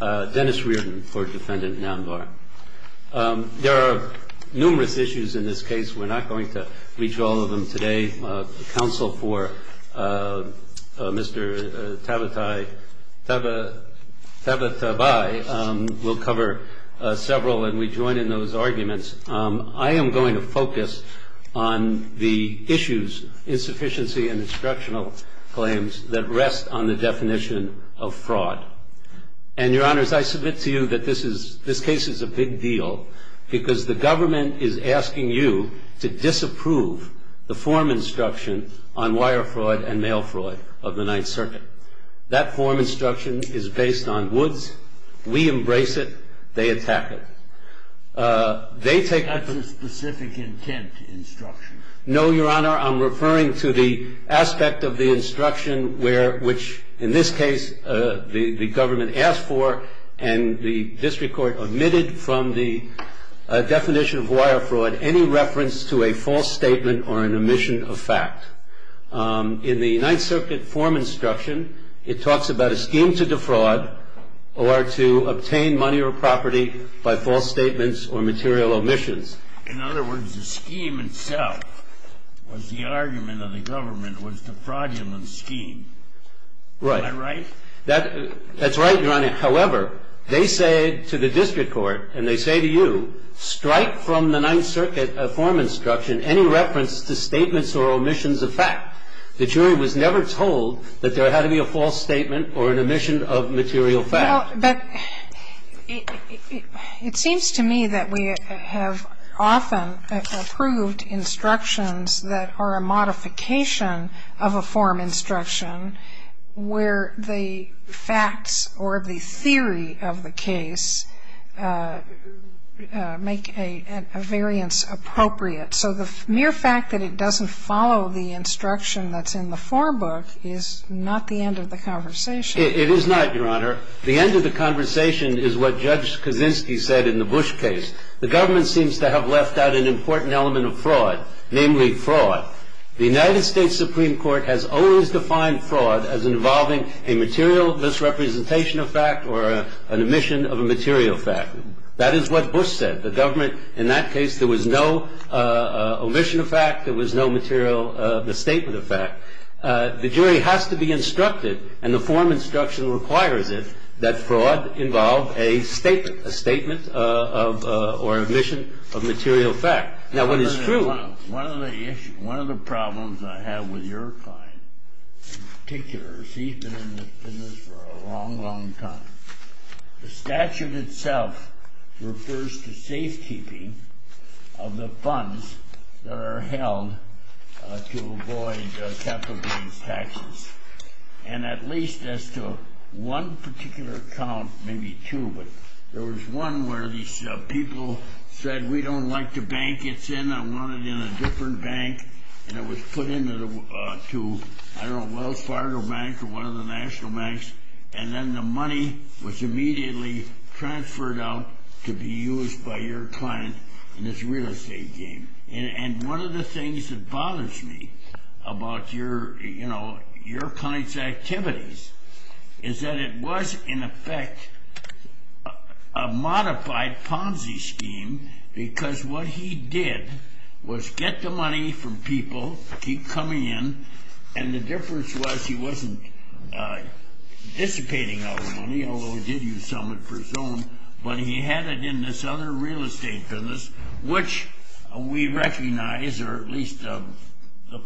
Dennis Reardon for defendant Namvar. There are numerous issues in this case we're not going to reach all of them today. The counsel for Mr. Tabatabai will cover several and we join in those arguments. I am going to focus on the issues, insufficiency and instructional claims, that rest on the and your honors I submit to you that this is this case is a big deal because the government is asking you to disapprove the form instruction on wire fraud and mail fraud of the Ninth Circuit. That form instruction is based on Woods. We embrace it. They attack it. They take a specific intent instruction. No, your honor. I'm referring to the aspect of the instruction where which in this case the government asked for and the district court omitted from the definition of wire fraud any reference to a false statement or an omission of fact. In the Ninth Circuit form instruction it talks about a scheme to defraud or to obtain money or property by false statements or material omissions. In other words the scheme itself was the argument of the government was defraudulent scheme. Right. Am I right? That's right, your honor. However, they say to the district court and they say to you, strike from the Ninth Circuit form instruction any reference to statements or omissions of fact. The jury was never told that there had to be a false statement or an omission of material fact. Well, but it seems to me that we have often approved instructions that are a form instruction where the facts or the theory of the case make a variance appropriate. So the mere fact that it doesn't follow the instruction that's in the form book is not the end of the conversation. It is not, your honor. The end of the conversation is what Judge Kaczynski said in the Bush case. The government seems to have left out an important element of fraud, namely fraud. The United States Supreme Court has always defined fraud as involving a material misrepresentation of fact or an omission of a material fact. That is what Bush said. The government in that case there was no omission of fact. There was no material misstatement of fact. The jury has to be instructed and the form instruction requires it that fraud involve a statement, a statement of or omission of material fact. Now, when it's true... One of the issues, one of the problems I have with your client in particular, she's been in this business for a long, long time. The statute itself refers to safekeeping of the funds that are held to avoid capital gains taxes. And at least as to one particular account, maybe two, but there was one where these people said, we don't like the bank it's in. I want it in a different bank. And it was put into, I don't know, Wells Fargo Bank or one of the national banks. And then the money was immediately transferred out to be used by your client in this real estate game. And one of the things that bothers me about your client's activities is that it was in effect a modified Ponzi scheme because what he did was get the money from people, keep coming in. And the difference was he wasn't dissipating all the money, although he did use some of it for his own, but he had it in this other real estate business, which we recognize, or at least the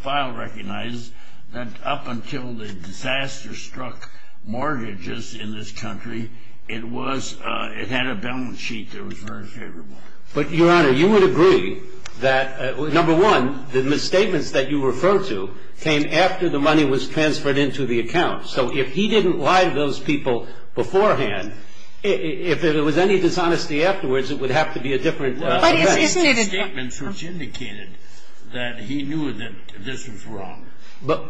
file recognizes, that up until the disaster struck mortgages in this country, it had a balance sheet that was very favorable. But, Your Honor, you would agree that, number one, the misstatements that you refer to came after the money was transferred into the account. So if he didn't lie to those people beforehand, if there was any dishonesty afterwards, it would have to be a different event. But isn't it a... The misstatements which indicated that he knew that this was wrong. But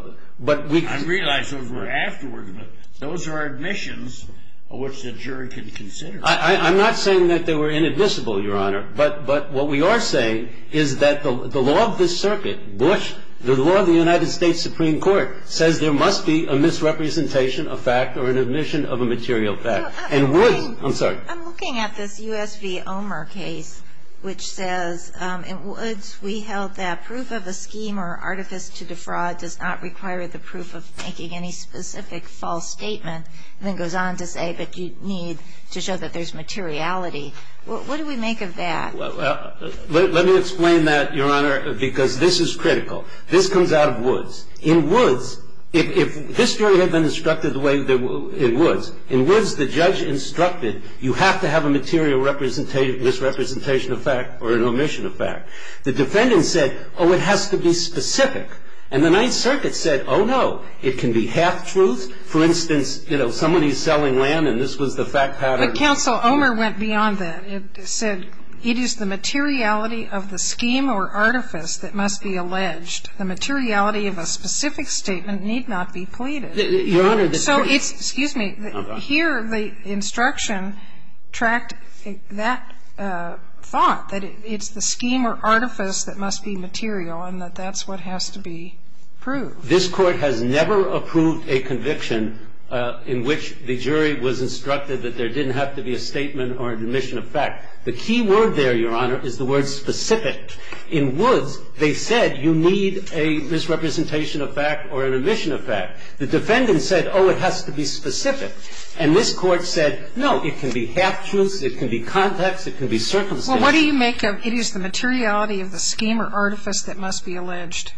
we... I realize those were afterwards, but those are admissions which the jury can consider. I'm not saying that they were inadmissible, Your Honor. But what we are saying is that the law of this circuit, Bush, the law of the United States Supreme Court, says there must be a misrepresentation of fact or an admission of a material fact. And Woods... I'm sorry. I'm looking at this U.S. v. Omer case, which says, in Woods, we held that proof of a scheme or artifice to defraud does not require the proof of making any specific false statement, and then goes on to say that you need to show that there's materiality. What do we make of that? Well, let me explain that, Your Honor, because this is critical. This comes out of Woods. In Woods, if this jury had been instructed the way it was, in Woods the judge instructed you have to have a material misrepresentation of fact or an omission of fact. The defendant said, oh, it has to be specific. And the Ninth Circuit, you know, somebody's selling land and this was the fact pattern. But, Counsel, Omer went beyond that. It said it is the materiality of the scheme or artifice that must be alleged. The materiality of a specific statement need not be pleaded. Your Honor, the case... So it's the case. Excuse me. Here the instruction tracked that thought, that it's the scheme or artifice that must be material, and that that's what has to be proved. This Court has never approved a conviction in which the jury was instructed that there didn't have to be a statement or an omission of fact. The key word there, Your Honor, is the word specific. In Woods, they said you need a misrepresentation of fact or an omission of fact. The defendant said, oh, it has to be specific. And this Court said, no, it can be half-truths, it can be context, it can be circumstance. Well, what do you make of it is the materiality of the scheme or artifice that must be alleged?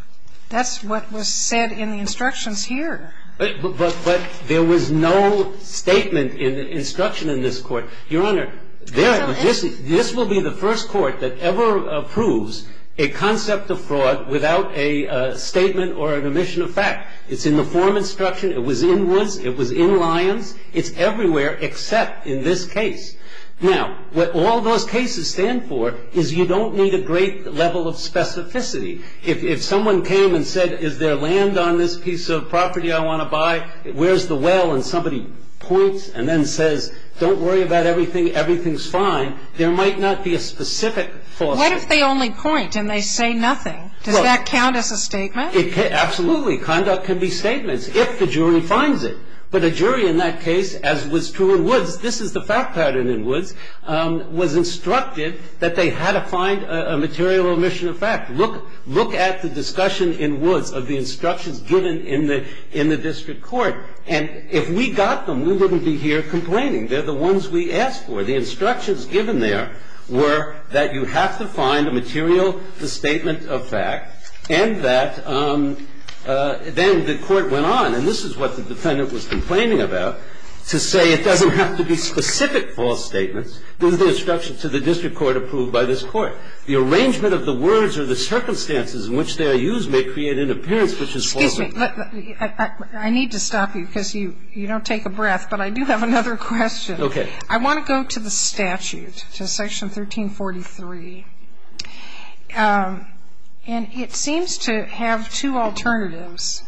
That's what was said in the instructions here. But there was no statement in the instruction in this Court. Your Honor, this will be the first Court that ever approves a concept of fraud without a statement or an omission of fact. It's in the form instruction, it was in Woods, it was in Lyons, it's everywhere except in this case. Now, what all those cases stand for is you don't need a great level of specificity. If someone came and said, is there land on this piece of property I want to buy? Where's the well? And somebody points and then says, don't worry about everything, everything's fine. There might not be a specific force. What if they only point and they say nothing? Does that count as a statement? Absolutely. Conduct can be statements if the jury finds it. But a jury in that case, as was true in Woods, this is the fact pattern in Woods, was instructed that they had to find a material omission of fact. Look at the discussion in Woods of the instructions given in the district court. And if we got them, we wouldn't be here complaining. They're the ones we asked for. The instructions given there were that you have to find a material, the statement of fact, and that then the court went on, and this is what the defendant was complaining about, to say it doesn't have to be specific false statements. This is the instruction to the district court approved by this court. The arrangement of the words or the circumstances in which they are used may create an appearance which is false. Excuse me. I need to stop you because you don't take a breath, but I do have another question. Okay. I want to go to the statute, to Section 1343. And it seems to have two alternatives.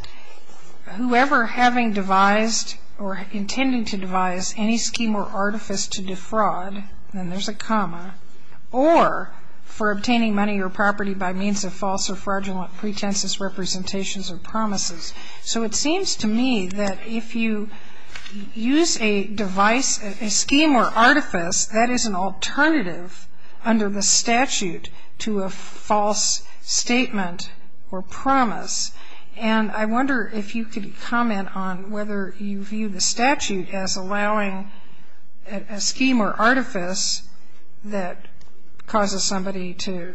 Whoever having devised or intending to devise any scheme or artifice, that is an alternative under the statute to a false statement or promise. And I wonder if you could comment on whether you view the statute as allowing a scheme or artifice to be used as an alternative to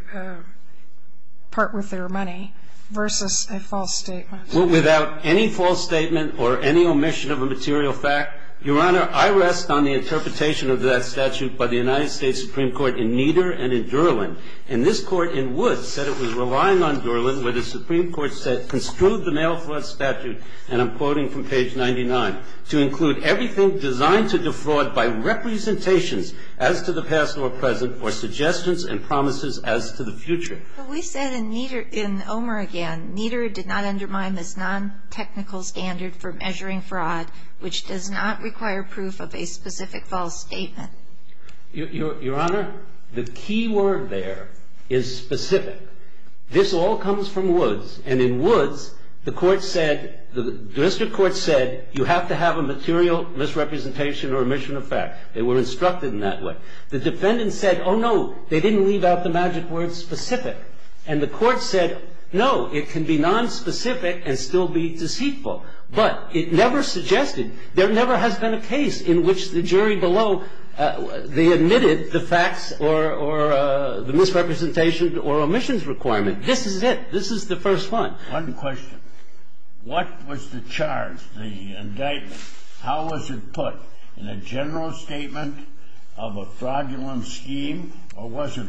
a false statement. Well, without any false statement or any omission of a material fact, Your Honor, I rest on the interpretation of that statute by the United States Supreme Court in Nieder and in Durland. And this Court in Woods said it was relying on Durland where the Supreme Court construed the mail fraud statute, and I'm quoting from page 99, to include everything designed to defraud by representations as to the past or present or suggestions and promises as to the future. But we said in Nieder, in Omer again, Nieder did not undermine this non-technical standard for measuring fraud, which does not require proof of a specific false statement. Your Honor, the key word there is specific. This all comes from Woods. And in Woods, the court said, the district court said you have to have a material misrepresentation or omission of fact. They were instructed in that way. The defendant said, oh, no, they didn't leave out the magic word specific. And the court said, no, it can be nonspecific and still be deceitful. But it never suggested, there never has been a case in which the jury below, they admitted the facts or the misrepresentation or omissions requirement. This is it. This is the first one. One question. What was the charge, the indictment? How was it put? In a general statement of a fraudulent scheme or was it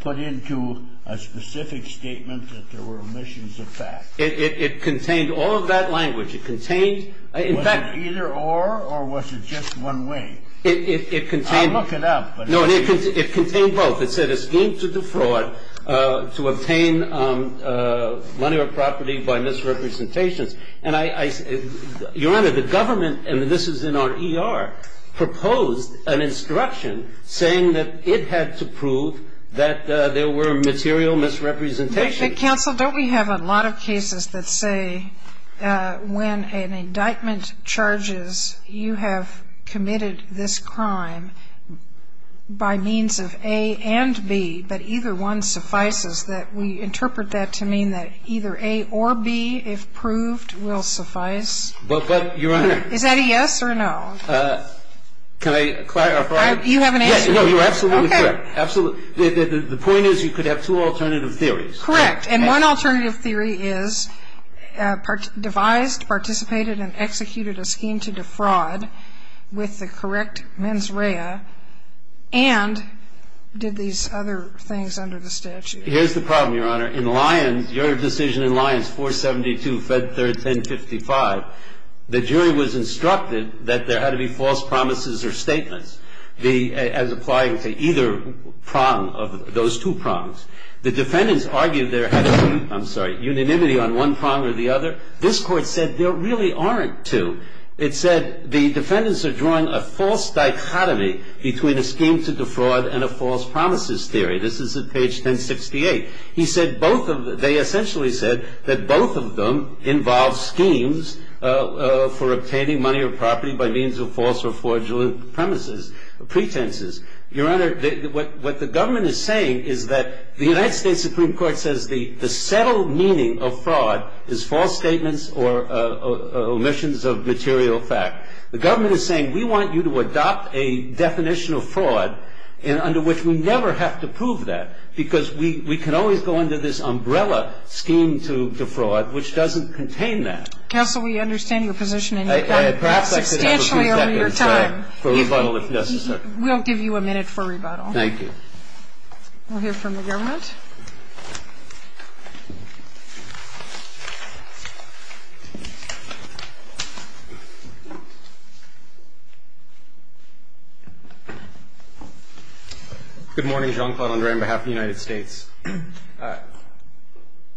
put into a specific statement that there were omissions of fact? It contained all of that language. It contained, in fact Was it either or or was it just one way? It contained I'll look it up. No, it contained both. It said a scheme to defraud, to obtain money or property by misrepresentations. And Your Honor, the government, and this is in our ER, proposed an instruction saying that it had to prove that there were material misrepresentations. But counsel, don't we have a lot of cases that say when an indictment charges you have committed this crime by means of A and B, but either one suffices, that we interpret that to mean that either A or B, if proved, will suffice? But Your Honor Is that a yes or a no? Can I clarify? You have an answer. No, you're absolutely correct. Okay. The point is you could have two alternative theories. Correct. And one alternative theory is devised, participated and executed a scheme to defraud with the correct mens rea and did these other things under the statute. Here's the problem, Your Honor. In Lyons, your decision in Lyons 472, Fed 3rd, 1055, the jury was instructed that there had to be false promises or statements as applying to either prong of those two prongs. The defendants argued there had to be, I'm sorry, unanimity on one prong or the other. This court said there really aren't two. It said the defendants are drawing a false dichotomy between a scheme to defraud and a false promises theory. This is at page 1068. They essentially said that both of them involve schemes for obtaining money or property by means of false or fraudulent pretences. Your Honor, what the government is saying is that the United States Supreme Court says the settled meaning of fraud is false statements or omissions of material fact. The government is saying we want you to adopt a definition of fraud under which we never have to prove that because we can always go under this umbrella scheme to defraud which doesn't contain that. Counsel, we understand your position and you've done it substantially over your time. Perhaps I could have a few seconds for rebuttal if necessary. We'll give you a minute for rebuttal. Thank you. We'll hear from the government. Good morning, Jean-Claude André, on behalf of the United States.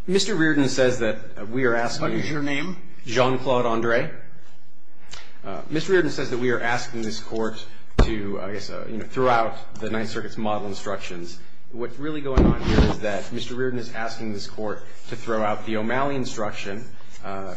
Mr. Reardon says that we are asking you. What is your name? Jean-Claude André. Mr. Reardon says that we are asking this court to, I guess, throughout the Ninth Circuit's model instructions, what's really going on here is that Mr. Reardon is asking this court to throw out the O'Malley instruction,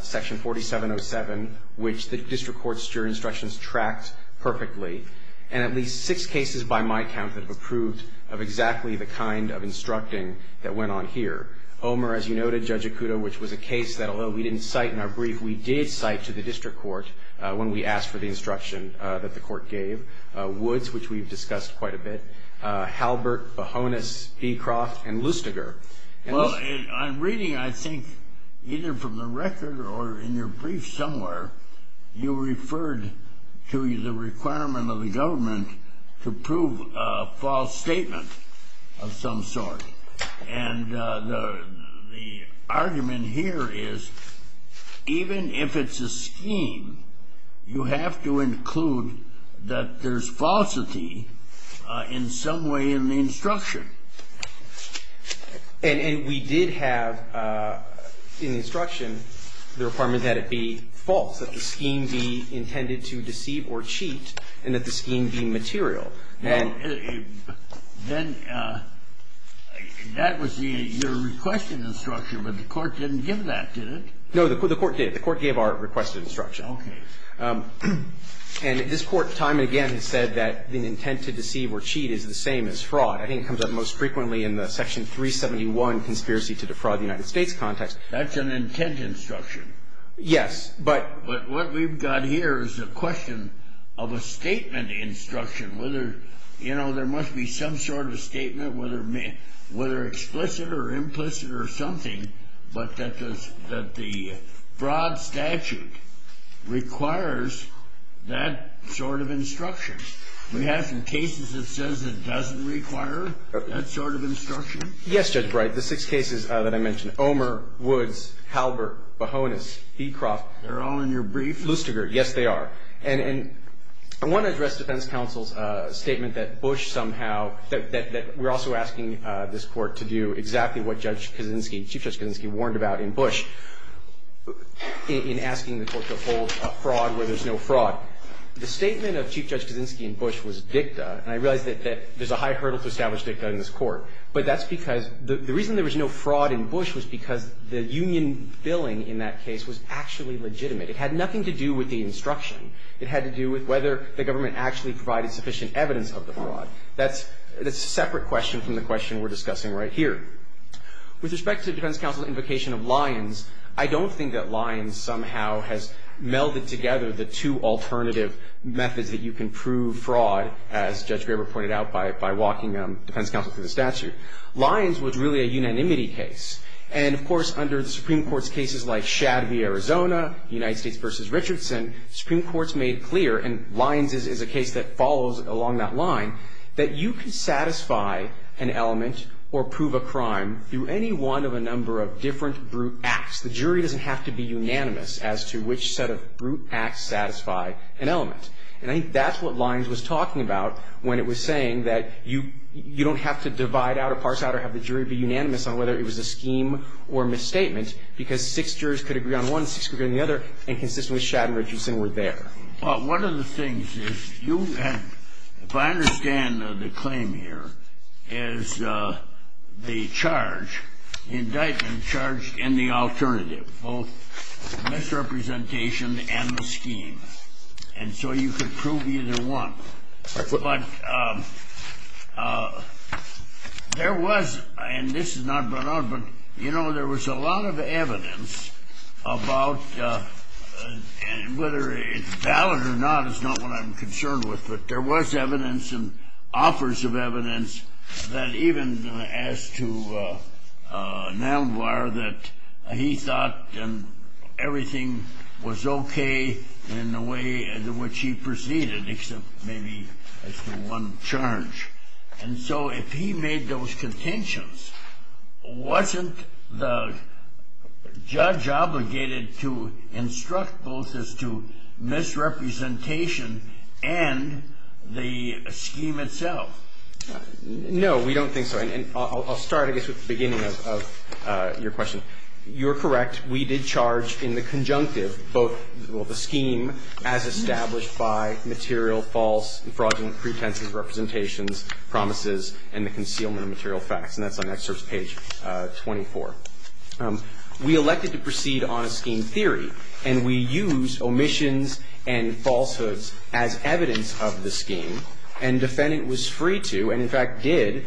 section 4707, which the district court's juror instructions tracked perfectly and at least six cases by my count that have approved of exactly the kind of instructing that went on here. Omer, as you noted, Judge Ikuto, which was a case that although we didn't cite in our brief, we did cite to the district court when we asked for the instruction that the court gave. Woods, which we've discussed quite a bit. Halbert, Bohonas, Beecroft, and Lustiger. Well, I'm reading, I think, either from the record or in your brief somewhere, you referred to the requirement of the government to prove a false statement of some sort. And the argument here is even if it's a scheme, you have to include that there's falsity in some way in the instruction. And we did have in the instruction the requirement that it be false, that the scheme be intended to deceive or cheat, and that the scheme be material. Then that was your requested instruction, but the court didn't give that, did it? No, the court did. The court gave our requested instruction. Okay. And this Court time and again has said that the intent to deceive or cheat is the same as fraud. I think it comes up most frequently in the Section 371 conspiracy to defraud the United States context. That's an intent instruction. Yes. But what we've got here is a question of a statement instruction, whether, you know, there must be some sort of statement, whether explicit or implicit or something, but that the broad statute requires that sort of instruction. We have some cases that says it doesn't require that sort of instruction. Yes, Judge Bright. The six cases that I mentioned, Omer, Woods, Halbert, Bohonas, Heecroft. They're all in your brief? Lustiger. Yes, they are. And I want to address defense counsel's statement that Bush somehow, that we're also asking this Court to do exactly what Judge Kaczynski, Chief Judge Kaczynski warned about in Bush, in asking the Court to uphold a fraud where there's no fraud. The statement of Chief Judge Kaczynski in Bush was dicta, and I realize that there's a high hurdle to establish dicta in this Court. But that's because the reason there was no fraud in Bush was because the union billing in that case was actually legitimate. It had nothing to do with the instruction. It had to do with whether the government actually provided sufficient evidence of the fraud. That's a separate question from the question we're discussing right here. With respect to defense counsel's invocation of Lyons, I don't think that Lyons somehow has melded together the two alternative methods that you can prove fraud, as Judge Graber pointed out by walking defense counsel through the statute. Lyons was really a unanimity case. And, of course, under the Supreme Court's cases like Shad v. Arizona, United States v. Richardson, Supreme Court's made clear, and Lyons is a case that follows along that line, that you can satisfy an element or prove a crime through any one of a number of different brute acts. The jury doesn't have to be unanimous as to which set of brute acts satisfy an element. And I think that's what Lyons was talking about when it was saying that you don't have to divide out or parse out or have the jury be unanimous on whether it was a scheme or a misstatement, because six jurors could agree on one, six could agree on the other, and consistently Shad and Richardson were there. Well, one of the things is, if I understand the claim here, is the charge, indictment charged in the alternative, both misrepresentation and the scheme. And so you could prove either one. But there was, and this is not brought up, but, you know, there was a lot of evidence about, whether it's valid or not is not what I'm concerned with, but there was evidence and offers of evidence that even asked to Neldenweyer that he thought everything was okay in the way in which he proceeded, except maybe as to one charge. And so if he made those contentions, wasn't the judge obligated to instruct both as to misrepresentation and the scheme itself? No, we don't think so. And I'll start, I guess, with the beginning of your question. You're correct. We did charge in the conjunctive both, well, the scheme as established by material false and fraudulent pretenses, representations, promises, and the concealment of material facts. And that's on excerpt page 24. We elected to proceed on a scheme theory, and we used omissions and falsehoods as evidence of the scheme. And defendant was free to, and in fact did,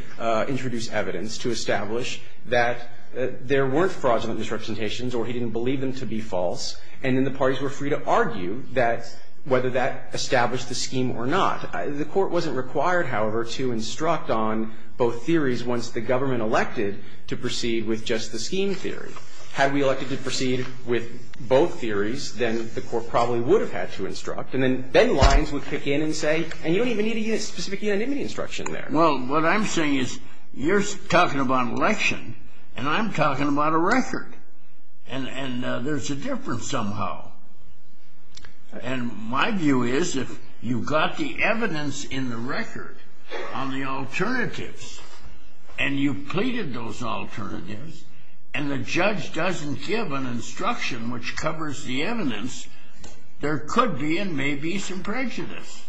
introduce evidence to establish that there weren't fraudulent misrepresentations or he didn't believe them to be false. And then the parties were free to argue that whether that established the scheme or not. The Court wasn't required, however, to instruct on both theories once the government elected to proceed with just the scheme theory. Had we elected to proceed with both theories, then the Court probably would have had to instruct. And then Ben Lyons would kick in and say, and you don't even need a specific anonymity instruction there. Well, what I'm saying is you're talking about election, and I'm talking about a record. And there's a difference somehow. And my view is if you got the evidence in the record on the alternatives, and you pleaded those alternatives, and the judge doesn't give an instruction which covers the evidence, there could be and may be some prejudice.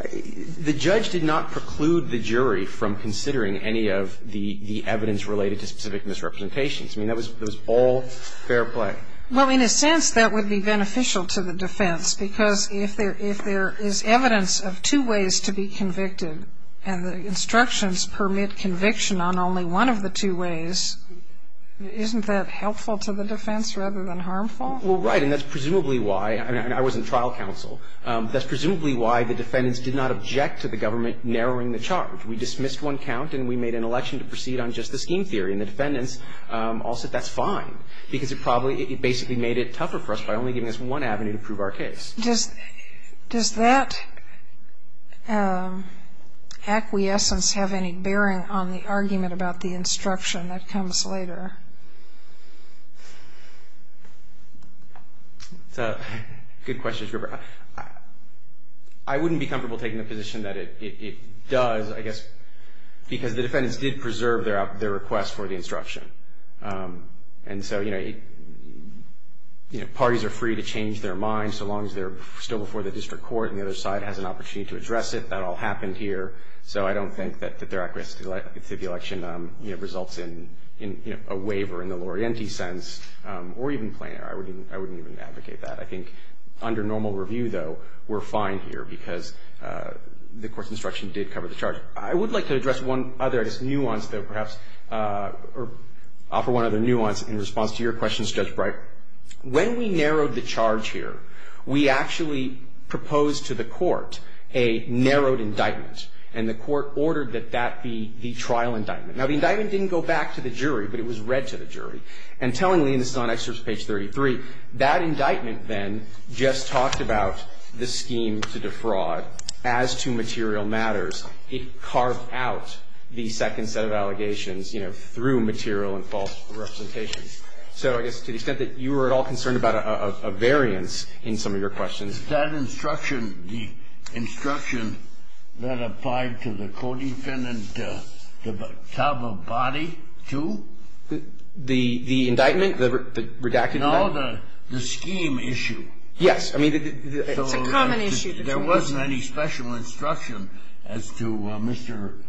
The judge did not preclude the jury from considering any of the evidence related to specific misrepresentations. I mean, that was all fair play. Well, in a sense, that would be beneficial to the defense. Because if there is evidence of two ways to be convicted, and the instructions permit conviction on only one of the two ways, isn't that helpful to the defense rather than harmful? Well, right. And that's presumably why. I mean, I was in trial counsel. That's presumably why the defendants did not object to the government narrowing the charge. We dismissed one count, and we made an election to proceed on just the scheme theory. And the defendants all said that's fine, because it basically made it tougher for us by only giving us one avenue to prove our case. Does that acquiescence have any bearing on the argument about the instruction that comes later? It's a good question. I wouldn't be comfortable taking the position that it does, I guess, because the defendants did preserve their request for the instruction. And so, you know, parties are free to change their minds so long as they're still before the district court and the other side has an opportunity to address it. That all happened here. So I don't think that their acquiescence to the election, you know, results in, you know, a waiver in the Laurenti sense or even plainer. I wouldn't even advocate that. I think under normal review, though, we're fine here, because the court's instruction did cover the charge. I would like to address one other, I guess, nuance, though, perhaps, or offer one other nuance in response to your questions, Judge Breyer. When we narrowed the charge here, we actually proposed to the court a narrowed indictment, and the court ordered that that be the trial indictment. Now, the indictment didn't go back to the jury, but it was read to the jury. And tellingly, and this is on excerpt page 33, that indictment then just talked about the scheme to defraud as to material matters. It carved out the second set of allegations, you know, through material and false representations. So I guess to the extent that you were at all concerned about a variance in some of your questions. And is that instruction, the instruction that applied to the co-defendant Tabbabadi, too? The indictment, the redacted indictment? No, the scheme issue. Yes. It's a common issue. There wasn't any special instruction as to Mr.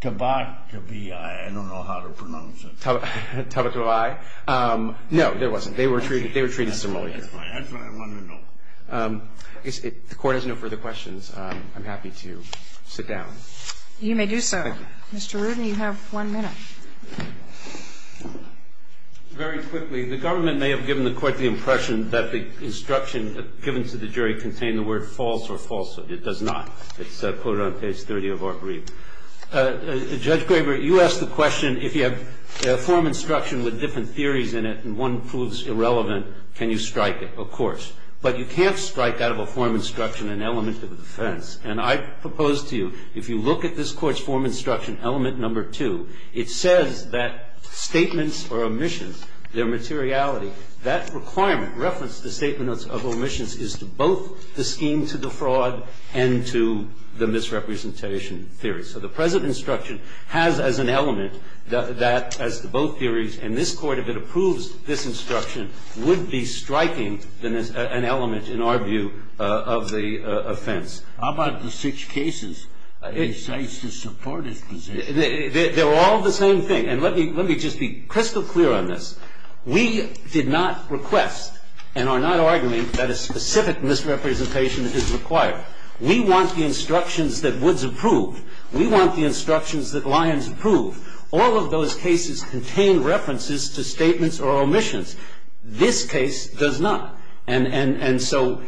Tabbababi. I don't know how to pronounce it. Tabbababi? No, there wasn't. They were treated similarly. That's fine. That's what I wanted to know. If the Court has no further questions, I'm happy to sit down. You may do so. Thank you. Mr. Rudin, you have one minute. Very quickly. The government may have given the Court the impression that the instruction given to the jury contained the word false or falsehood. It does not. It's quoted on page 30 of our brief. Judge Graber, you asked the question, if you have a form of instruction with different theories in it and one proves irrelevant, can you strike it? Of course. But you can't strike out of a form of instruction an element of offense. And I propose to you, if you look at this Court's form of instruction, element number two, it says that statements or omissions, their materiality, that requirement referenced the statement of omissions is to both the scheme to the fraud and to the misrepresentation theory. So the present instruction has as an element that, as to both theories, and this Court, if it approves this instruction, would be striking an element, in our view, of the offense. How about the six cases? It decides to support its position. They're all the same thing. And let me just be crystal clear on this. We did not request and are not arguing that a specific misrepresentation is required. We want the instructions that Woods approved. We want the instructions that Lyons approved. All of those cases contain references to statements or omissions. This case does not. And so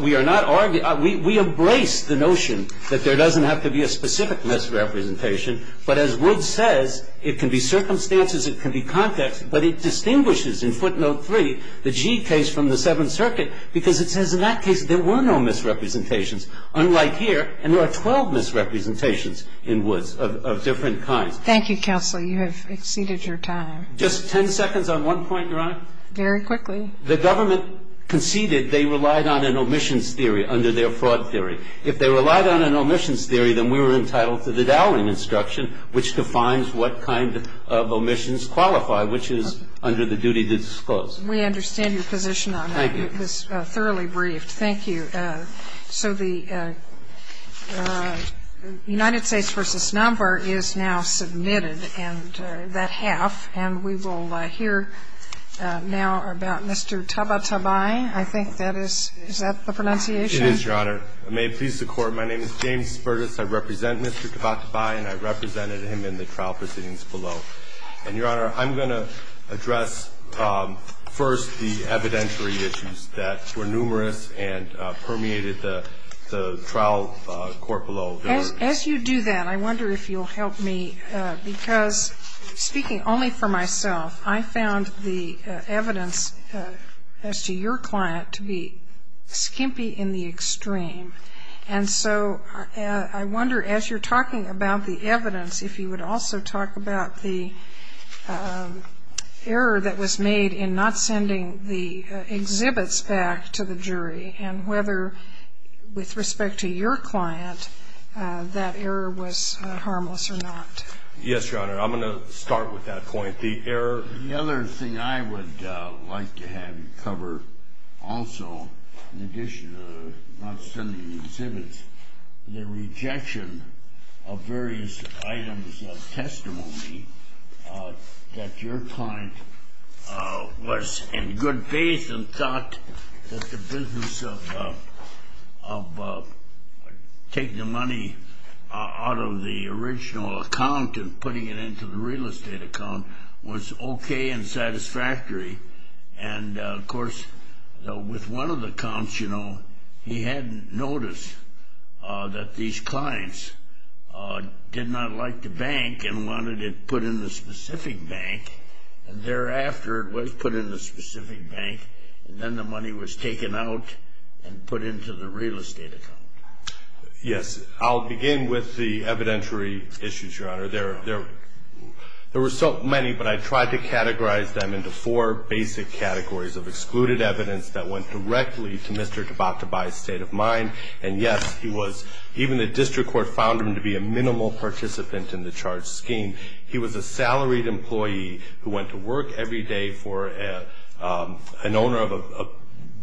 we are not arguing. We embrace the notion that there doesn't have to be a specific misrepresentation. But as Woods says, it can be circumstances, it can be context, but it distinguishes in footnote three the G case from the Seventh Circuit because it says in that case there were no misrepresentations. Unlike here, and there are 12 misrepresentations in Woods of different kinds. Thank you, counsel. You have exceeded your time. Just ten seconds on one point, Your Honor. Very quickly. The government conceded they relied on an omissions theory under their fraud theory. If they relied on an omissions theory, then we were entitled to the Dowling instruction, which defines what kind of omissions qualify, which is under the duty to disclose. We understand your position on that. Thank you. It was thoroughly briefed. Thank you. All right. So the United States v. Nonvar is now submitted, and that half. And we will hear now about Mr. Tabatabai. I think that is the pronunciation? It is, Your Honor. May it please the Court, my name is James Fergus. I represent Mr. Tabatabai, and I represented him in the trial proceedings below. And, Your Honor, I'm going to address first the evidentiary issues that were numerous and permeated the trial court below. As you do that, I wonder if you'll help me, because speaking only for myself, I found the evidence as to your client to be skimpy in the extreme. And so I wonder, as you're talking about the evidence, if you would also talk about the error that was made in not sending the exhibits back to the jury, and whether, with respect to your client, that error was harmless or not. Yes, Your Honor. I'm going to start with that point. The error. The other thing I would like to have you cover also, in addition to not sending the that your client was in good faith and thought that the business of taking the money out of the original account and putting it into the real estate account was okay and satisfactory. And, of course, with one of the accounts, he hadn't noticed that these clients did not like the bank and wanted it put in the specific bank, and thereafter it was put in the specific bank, and then the money was taken out and put into the real estate account. Yes. I'll begin with the evidentiary issues, Your Honor. There were so many, but I tried to categorize them into four basic categories of excluded evidence that went directly to Mr. Tabatabai's state of mind. And, yes, even the district court found him to be a minimal participant in the charged scheme. He was a salaried employee who went to work every day for an owner of a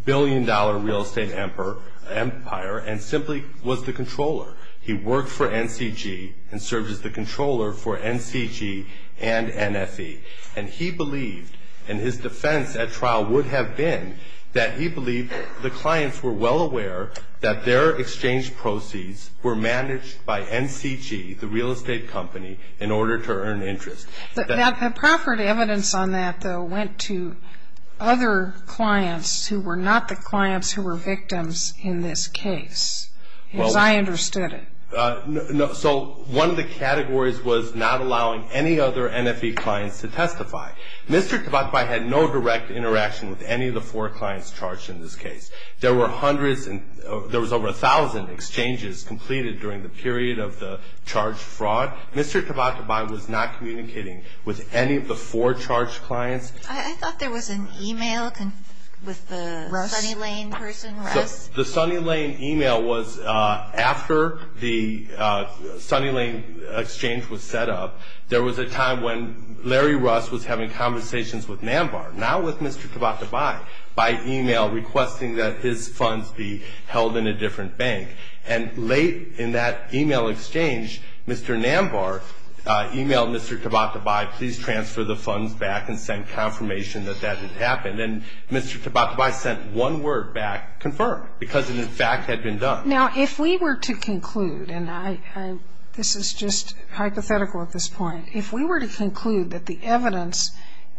billion-dollar real estate empire and simply was the controller. He worked for NCG and served as the controller for NCG and NFE. And he believed, and his defense at trial would have been, that he believed the clients were well aware that their exchange proceeds were managed by NCG, the real estate company, in order to earn interest. The proffered evidence on that, though, went to other clients who were not the clients who were victims in this case, as I understood it. So one of the categories was not allowing any other NFE clients to testify. Mr. Tabatabai had no direct interaction with any of the four clients charged in this case. There were over a thousand exchanges completed during the period of the charged fraud. Mr. Tabatabai was not communicating with any of the four charged clients. I thought there was an e-mail with the Sunny Lane person, Russ. The Sunny Lane e-mail was after the Sunny Lane exchange was set up. There was a time when Larry Russ was having conversations with Nambar, now with Mr. Tabatabai, by e-mail requesting that his funds be held in a different bank. And late in that e-mail exchange, Mr. Nambar e-mailed Mr. Tabatabai, please transfer the funds back and send confirmation that that had happened. And Mr. Tabatabai sent one word back, confirm, because it, in fact, had been done. Now, if we were to conclude, and this is just hypothetical at this point, if we were to conclude that the evidence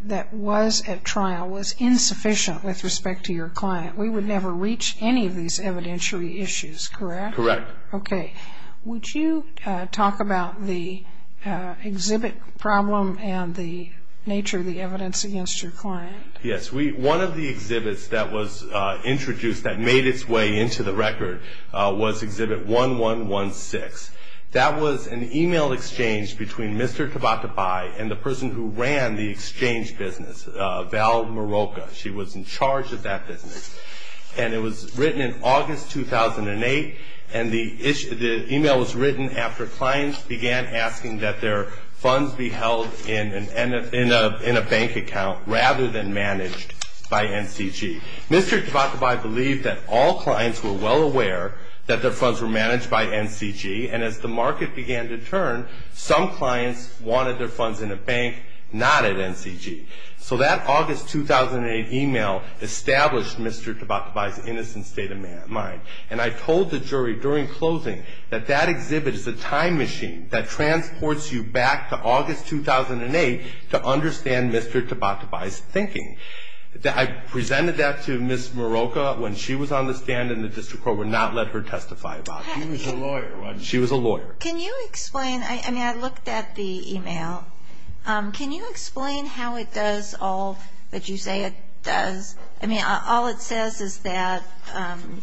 that was at trial was insufficient with respect to your client, we would never reach any of these evidentiary issues, correct? Correct. Okay. Would you talk about the exhibit problem and the nature of the evidence against your client? Yes. One of the exhibits that was introduced that made its way into the record was exhibit 1116. That was an e-mail exchange between Mr. Tabatabai and the person who ran the exchange business, Val Moroka. She was in charge of that business. And it was written in August 2008, and the e-mail was written after clients began asking that their funds be held in a bank account rather than managed by NCG. Mr. Tabatabai believed that all clients were well aware that their funds were managed by NCG, and as the market began to turn, some clients wanted their funds in a bank, not at NCG. So that August 2008 e-mail established Mr. Tabatabai's innocent state of mind. And I told the jury during closing that that exhibit is a time machine that transports you back to August 2008 to understand Mr. Tabatabai's thinking. I presented that to Ms. Moroka when she was on the stand and the district court would not let her testify about it. She was a lawyer, wasn't she? She was a lawyer. Can you explain? I mean, I looked at the e-mail. Can you explain how it does all that you say it does? I mean, all it says is that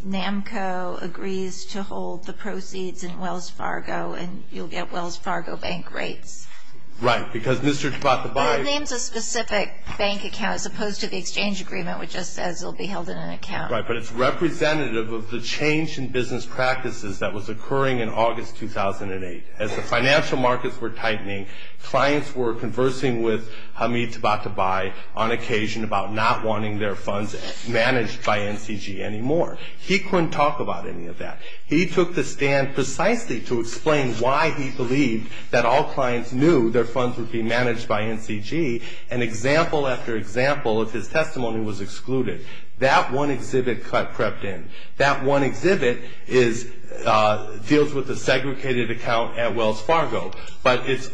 NAMCO agrees to hold the proceeds in Wells Fargo, and you'll get Wells Fargo bank rates. Right, because Mr. Tabatabai Well, it names a specific bank account as opposed to the exchange agreement, which just says it will be held in an account. Right, but it's representative of the change in business practices that was occurring in August 2008. As the financial markets were tightening, clients were conversing with Hamid Tabatabai on occasion about not wanting their funds managed by NCG anymore. He couldn't talk about any of that. He took the stand precisely to explain why he believed that all clients knew their funds would be managed by NCG, and example after example of his testimony was excluded. That one exhibit cut crept in. That one exhibit deals with a segregated account at Wells Fargo. But it's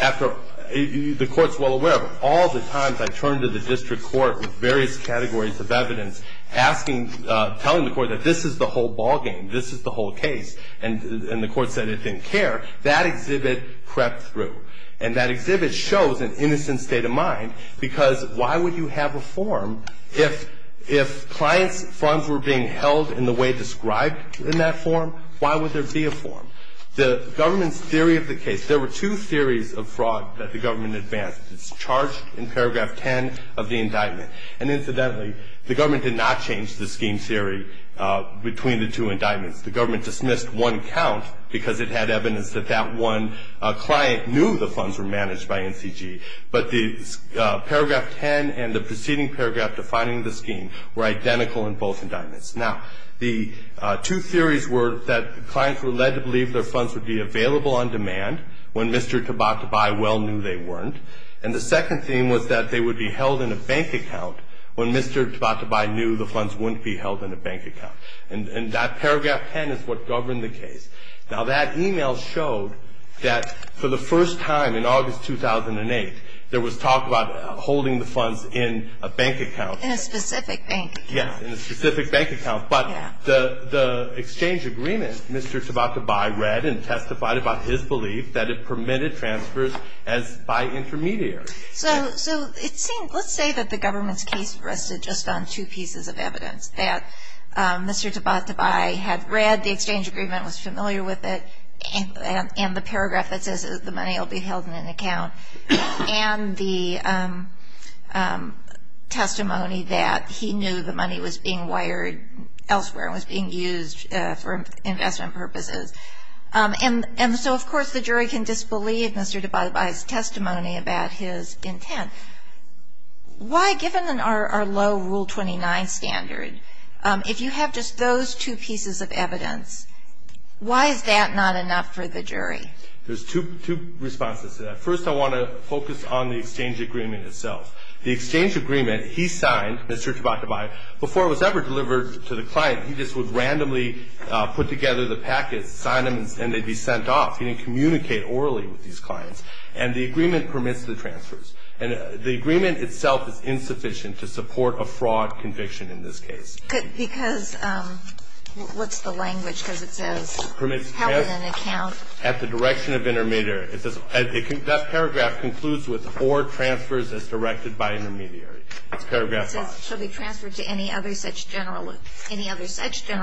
after the court's well aware of it. All the times I turn to the district court with various categories of evidence, asking, telling the court that this is the whole ballgame, this is the whole case, and the court said it didn't care, that exhibit crept through. And that exhibit shows an innocent state of mind, because why would you have a form if clients' funds were being held in the way described in that form? Why would there be a form? The government's theory of the case, there were two theories of fraud that the government advanced. It's charged in paragraph 10 of the indictment. And incidentally, the government did not change the scheme theory between the two indictments. The government dismissed one count because it had evidence that that one client knew the funds were managed by NCG. But the paragraph 10 and the preceding paragraph defining the scheme were identical in both indictments. Now, the two theories were that clients were led to believe their funds would be available on demand when Mr. Tabatabai well knew they weren't. And the second theme was that they would be held in a bank account when Mr. Tabatabai knew the funds wouldn't be held in a bank account. And that paragraph 10 is what governed the case. Now, that email showed that for the first time in August 2008, there was talk about holding the funds in a bank account. In a specific bank account. Yes, in a specific bank account. But the exchange agreement, Mr. Tabatabai read and testified about his belief that it permitted transfers by intermediaries. So let's say that the government's case rested just on two pieces of evidence. That Mr. Tabatabai had read the exchange agreement, was familiar with it, and the paragraph that says the money will be held in an account, and the testimony that he knew the money was being wired elsewhere and was being used for investment purposes. And so, of course, the jury can disbelieve Mr. Tabatabai's testimony about his intent. Why, given our low Rule 29 standard, if you have just those two pieces of evidence, why is that not enough for the jury? There's two responses to that. First, I want to focus on the exchange agreement itself. The exchange agreement he signed, Mr. Tabatabai, before it was ever delivered to the client, he just would randomly put together the packets, sign them, and they'd be sent off. He didn't communicate orally with these clients. And the agreement permits the transfers. And the agreement itself is insufficient to support a fraud conviction in this case. Because what's the language? Because it says held in an account. At the direction of intermediary. That paragraph concludes with or transfers as directed by intermediary. It's paragraph 5. So they transferred to any other such general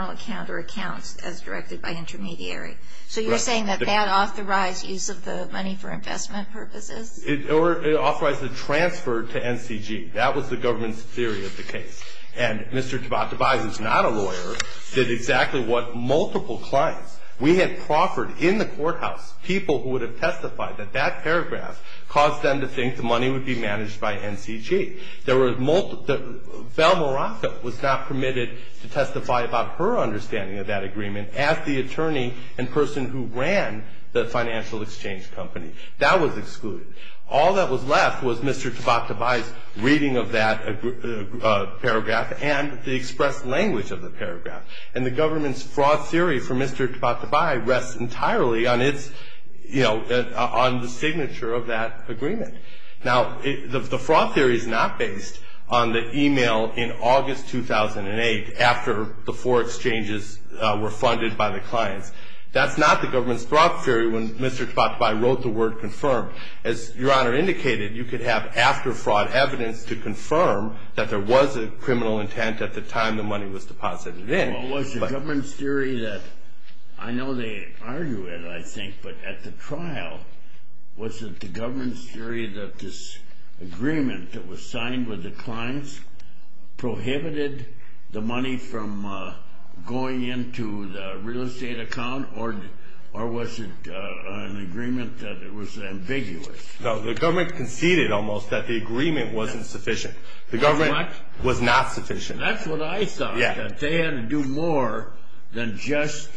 account or accounts as directed by intermediary. So you're saying that that authorized use of the money for investment purposes? It authorized the transfer to NCG. That was the government's theory of the case. And Mr. Tabatabai, who's not a lawyer, did exactly what multiple clients. We had proffered in the courthouse people who would have testified that that paragraph caused them to think the money would be managed by NCG. Val Moraka was not permitted to testify about her understanding of that agreement as the attorney and person who ran the financial exchange company. That was excluded. All that was left was Mr. Tabatabai's reading of that paragraph and the expressed language of the paragraph. And the government's fraud theory for Mr. Tabatabai rests entirely on its, you know, on the signature of that agreement. Now, the fraud theory is not based on the e-mail in August 2008 after the four exchanges were funded by the clients. That's not the government's fraud theory when Mr. Tabatabai wrote the word confirm. As Your Honor indicated, you could have after fraud evidence to confirm that there was a criminal intent at the time the money was deposited in. Well, was the government's theory that, I know they argue it, I think, but at the trial, was it the government's theory that this agreement that was signed with the clients prohibited the money from going into the real estate account or was it an agreement that it was ambiguous? No, the government conceded almost that the agreement wasn't sufficient. The government was not sufficient. That's what I thought, that they had to do more than just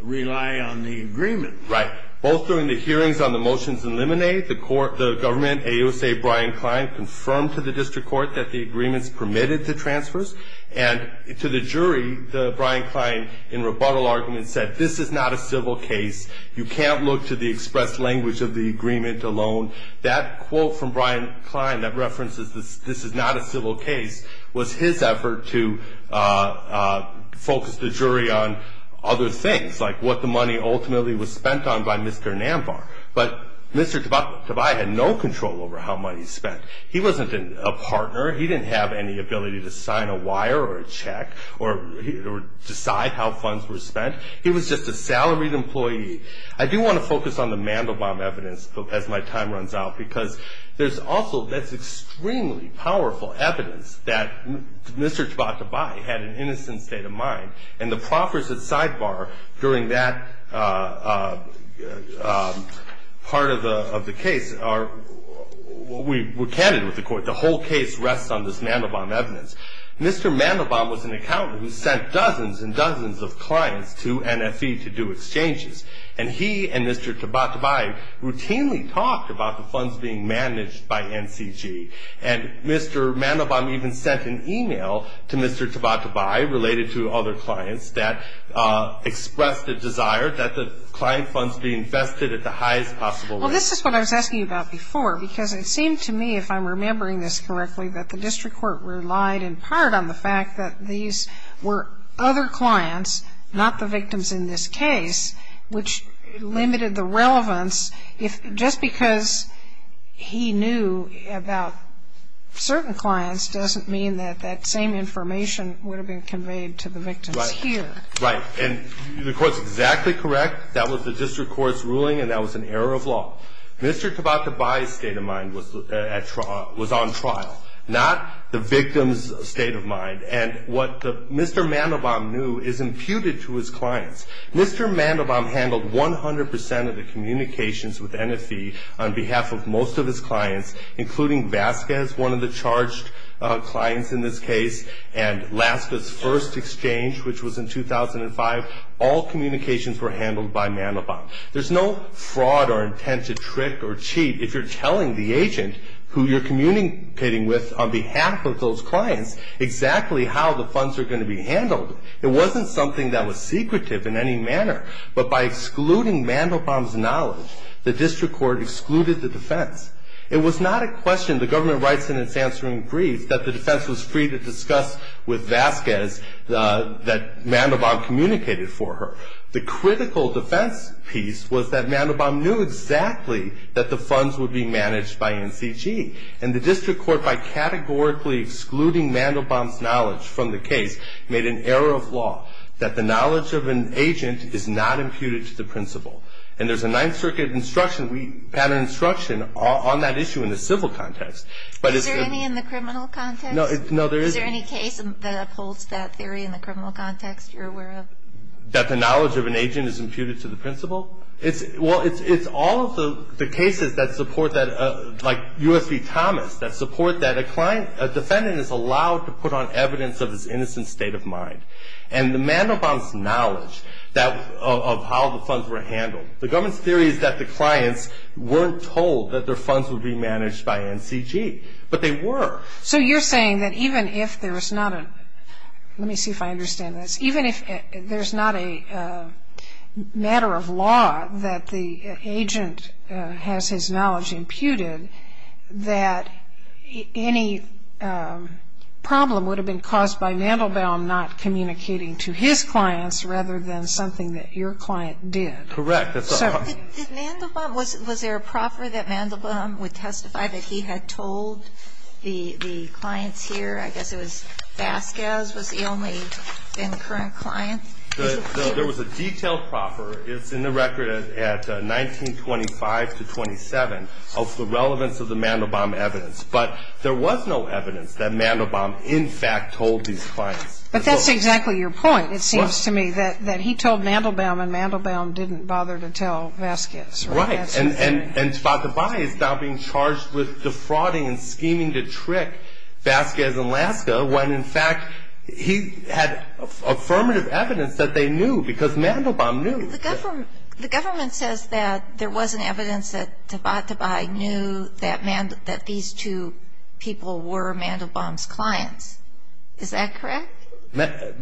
rely on the agreement. Right. Both during the hearings on the motions in Lemonade, the government, AUSA Brian Klein, confirmed to the district court that the agreements permitted the transfers. And to the jury, Brian Klein, in rebuttal arguments, said this is not a civil case. You can't look to the expressed language of the agreement alone. That quote from Brian Klein that references this is not a civil case was his effort to focus the jury on other things, like what the money ultimately was spent on by Mr. Nambar. But Mr. Tobias had no control over how money was spent. He wasn't a partner. He didn't have any ability to sign a wire or a check or decide how funds were spent. He was just a salaried employee. I do want to focus on the Mandelbaum evidence as my time runs out because there's also this extremely powerful evidence that Mr. Tobias had an innocent state of mind. And the proffers at Sidebar during that part of the case were candid with the court. The whole case rests on this Mandelbaum evidence. Mr. Mandelbaum was an accountant who sent dozens and dozens of clients to NFE to do exchanges. And he and Mr. Tabatabai routinely talked about the funds being managed by NCG. And Mr. Mandelbaum even sent an e-mail to Mr. Tabatabai related to other clients that expressed a desire that the client funds be invested at the highest possible rate. Well, this is what I was asking you about before because it seemed to me, if I'm remembering this correctly, that the district court relied in part on the fact that these were other clients, not the victims in this case, which limited the relevance. If just because he knew about certain clients doesn't mean that that same information would have been conveyed to the victims here. Right. And the Court's exactly correct. That was the district court's ruling, and that was an error of law. Mr. Tabatabai's state of mind was on trial, not the victim's state of mind. And what Mr. Mandelbaum knew is imputed to his clients. Mr. Mandelbaum handled 100% of the communications with NFE on behalf of most of his clients, including Vasquez, one of the charged clients in this case, and Laska's first exchange, which was in 2005. All communications were handled by Mandelbaum. There's no fraud or intent to trick or cheat if you're telling the agent who you're communicating with on behalf of those clients exactly how the funds are going to be handled. It wasn't something that was secretive in any manner. But by excluding Mandelbaum's knowledge, the district court excluded the defense. It was not a question, the government writes in its answering brief, that the defense was free to discuss with Vasquez that Mandelbaum communicated for her. The critical defense piece was that Mandelbaum knew exactly that the funds were being managed by NCG. And the district court, by categorically excluding Mandelbaum's knowledge from the case, made an error of law, that the knowledge of an agent is not imputed to the principal. And there's a Ninth Circuit instruction, pattern instruction, on that issue in the civil context. Is there any in the criminal context? No, there isn't. Is there any case that upholds that theory in the criminal context you're aware of? That the knowledge of an agent is imputed to the principal? Well, it's all of the cases that support that, like U.S. v. Thomas, that support that a client, a defendant is allowed to put on evidence of his innocent state of mind. And Mandelbaum's knowledge of how the funds were handled, the government's theory is that the clients weren't told that their funds would be managed by NCG. But they were. So you're saying that even if there was not a, let me see if I understand this, even if there's not a matter of law that the agent has his knowledge imputed, that any problem would have been caused by Mandelbaum not communicating to his clients rather than something that your client did? Correct. Did Mandelbaum, was there a proffer that Mandelbaum would testify that he had told the clients here? I guess it was Vasquez was the only current client. There was a detailed proffer. It's in the record at 1925 to 1927 of the relevance of the Mandelbaum evidence. But there was no evidence that Mandelbaum in fact told these clients. But that's exactly your point, it seems to me, that he told Mandelbaum and Mandelbaum didn't bother to tell Vasquez. Right. And Tabatabai is now being charged with defrauding and scheming to trick Vasquez and Laska when in fact he had affirmative evidence that they knew because Mandelbaum knew. The government says that there wasn't evidence that Tabatabai knew that these two people were Mandelbaum's clients. Is that correct? Mr.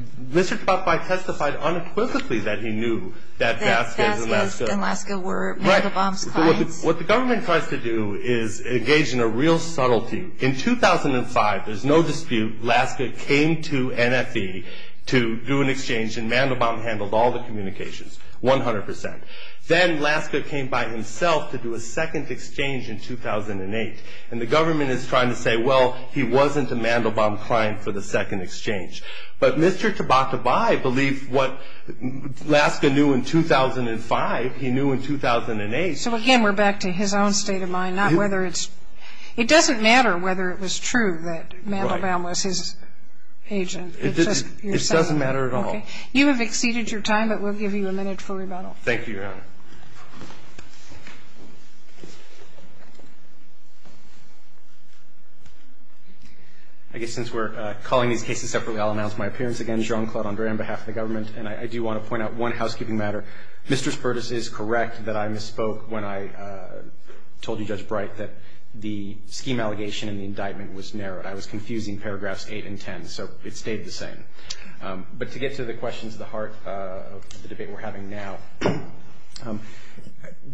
Tabatabai testified unequivocally that he knew that Vasquez and Laska were Mandelbaum's clients. What the government tries to do is engage in a real subtlety. In 2005, there's no dispute, Laska came to NFE to do an exchange and Mandelbaum handled all the communications 100%. Then Laska came by himself to do a second exchange in 2008, and the government is trying to say, well, he wasn't a Mandelbaum client for the second exchange. But Mr. Tabatabai believed what Laska knew in 2005, he knew in 2008. So, again, we're back to his own state of mind, not whether it's – it doesn't matter whether it was true that Mandelbaum was his agent. It doesn't matter at all. You have exceeded your time, but we'll give you a minute for rebuttal. Thank you, Your Honor. I guess since we're calling these cases separately, I'll announce my appearance again. Jerome Claude-Andre, on behalf of the government, and I do want to point out one housekeeping matter. Mr. Spertus is correct that I misspoke when I told you, Judge Bright, that the scheme allegation in the indictment was narrowed. I was confusing paragraphs 8 and 10, so it stayed the same. But to get to the questions at the heart of the debate we're having now,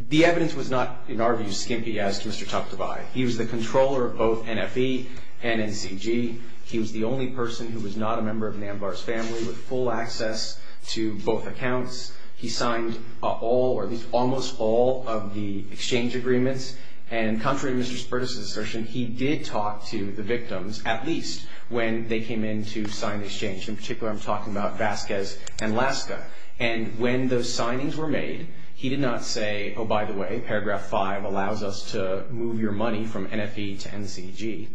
the evidence was not, in our view, skimpy as to Mr. Tabatabai. He was the controller of both NFE and NCG. He was the only person who was not a member of Nambar's family with full access to both accounts. He signed all, or at least almost all, of the exchange agreements. And contrary to Mr. Spertus' assertion, he did talk to the victims, at least when they came in to sign the exchange. In particular, I'm talking about Vasquez and Laska. And when those signings were made, he did not say, oh, by the way, paragraph 5 allows us to move your money from NFE to NCG.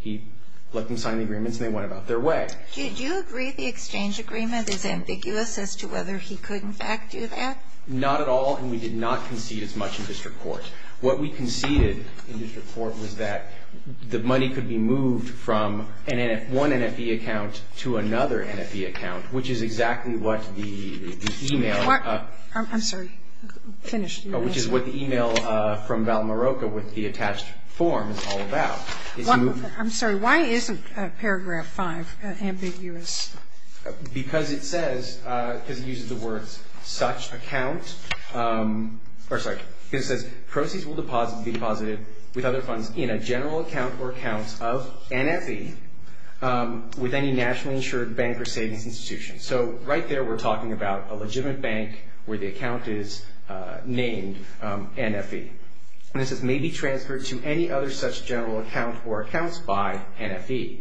He let them sign the agreements, and they went about their way. Do you agree the exchange agreement is ambiguous as to whether he could, in fact, do that? Not at all, and we did not concede as much in district court. What we conceded in district court was that the money could be moved from one NFE account to another NFE account, which is exactly what the e-mail. I'm sorry. Finish. Which is what the e-mail from Valmaroca with the attached form is all about. I'm sorry. Why isn't paragraph 5 ambiguous? Because it says, because it uses the words such account, or sorry, because it says proceeds will be deposited with other funds in a general account or accounts of NFE with any nationally insured bank or savings institution. So right there we're talking about a legitimate bank where the account is named NFE. And it says may be transferred to any other such general account or accounts by NFE.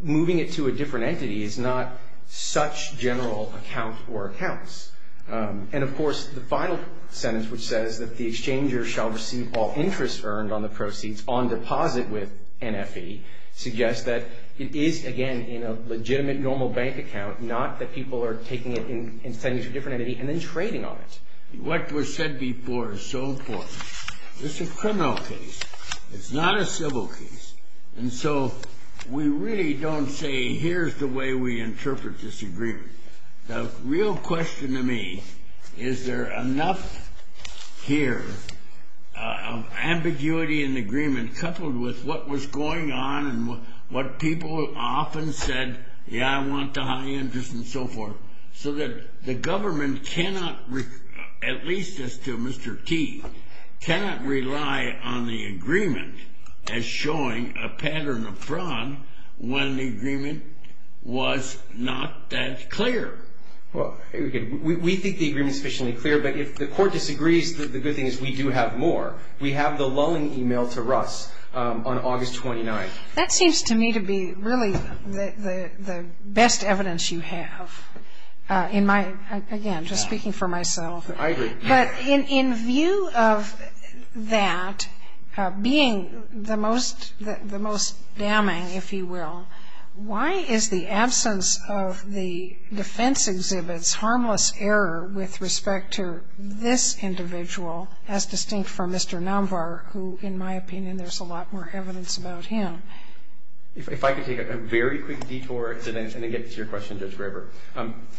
Moving it to a different entity is not such general account or accounts. And, of course, the final sentence which says that the exchanger shall receive all interest earned on the proceeds on deposit with NFE suggests that it is, again, in a legitimate normal bank account, not that people are taking it and sending it to a different entity and then trading on it. What was said before is so important. This is a criminal case. It's not a civil case. And so we really don't say here's the way we interpret this agreement. The real question to me, is there enough here of ambiguity in the agreement coupled with what was going on and what people often said, yeah, I want the high interest and so forth, so that the government cannot, at least as to Mr. T, cannot rely on the agreement as showing a pattern of fraud when the agreement was not that clear. Well, we think the agreement is sufficiently clear. But if the court disagrees, the good thing is we do have more. We have the lulling email to Russ on August 29th. That seems to me to be really the best evidence you have in my, again, just speaking for myself. I agree. But in view of that being the most damning, if you will, why is the absence of the defense exhibits harmless error with respect to this individual, as distinct from Mr. Namvar, who in my opinion there's a lot more evidence about him? If I could take a very quick detour and then get to your question, Judge Graber.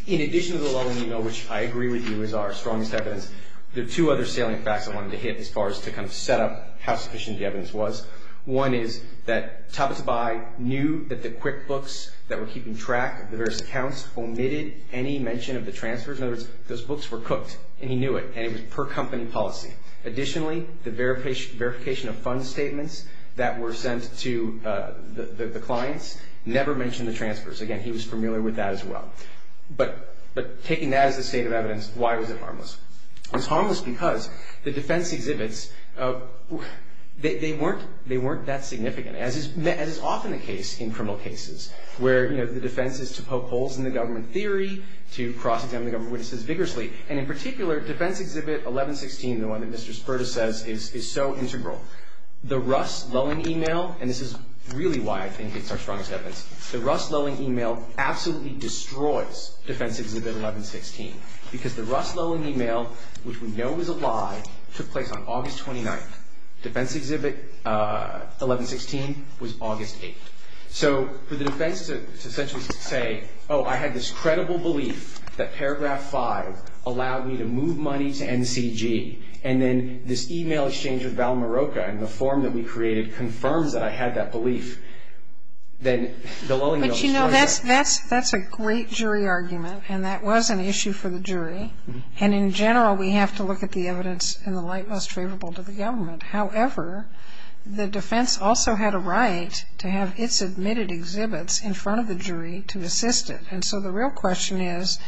In addition to the lulling email, which I agree with you is our strongest evidence, there are two other salient facts I wanted to hit as far as to kind of set up how sufficient the evidence was. One is that Tabatabai knew that the QuickBooks that were keeping track of the various accounts omitted any mention of the transfers. In other words, those books were cooked, and he knew it, and it was per company policy. Additionally, the verification of fund statements that were sent to the clients never mentioned the transfers. Again, he was familiar with that as well. But taking that as a state of evidence, why was it harmless? It was harmless because the defense exhibits, they weren't that significant, as is often the case in criminal cases where, you know, the defense is to poke holes in the government theory, to cross-examine the government witnesses vigorously. And in particular, defense exhibit 1116, the one that Mr. Spurta says, is so integral. The Russ lulling email, and this is really why I think it's our strongest evidence. The Russ lulling email absolutely destroys defense exhibit 1116, because the Russ lulling email, which we know is a lie, took place on August 29th. Defense exhibit 1116 was August 8th. So for the defense to essentially say, oh, I had this credible belief that paragraph 5 allowed me to move money to NCG, and then this email exchange with Val Marocca in the form that we created confirms that I had that belief, then the lulling mail destroys that. But, you know, that's a great jury argument, and that was an issue for the jury. And in general, we have to look at the evidence in the light most favorable to the government. However, the defense also had a right to have its admitted exhibits in front of the jury to assist it. And so the real question is,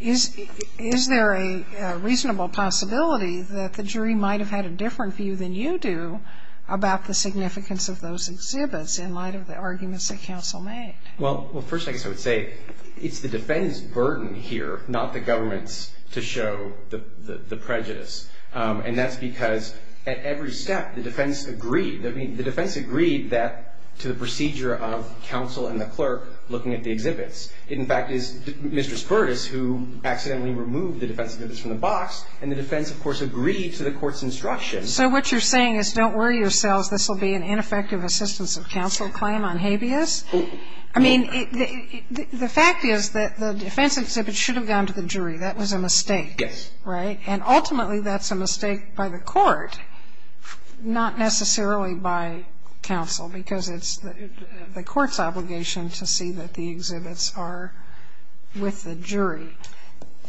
is there a reasonable possibility that the jury might have had a different view than you do about the significance of those exhibits in light of the arguments that counsel made? Well, first, I guess I would say it's the defense burden here, not the government's, to show the prejudice. And that's because at every step, the defense agreed. I mean, the defense agreed to the procedure of counsel and the clerk looking at the exhibits. In fact, it's Mr. Spertus who accidentally removed the defense exhibits from the box, and the defense, of course, agreed to the court's instructions. So what you're saying is don't worry yourselves. This will be an ineffective assistance of counsel claim on habeas? I mean, the fact is that the defense exhibits should have gone to the jury. That was a mistake. Yes. Right? And ultimately, that's a mistake by the court, not necessarily by counsel, because it's the court's obligation to see that the exhibits are with the jury.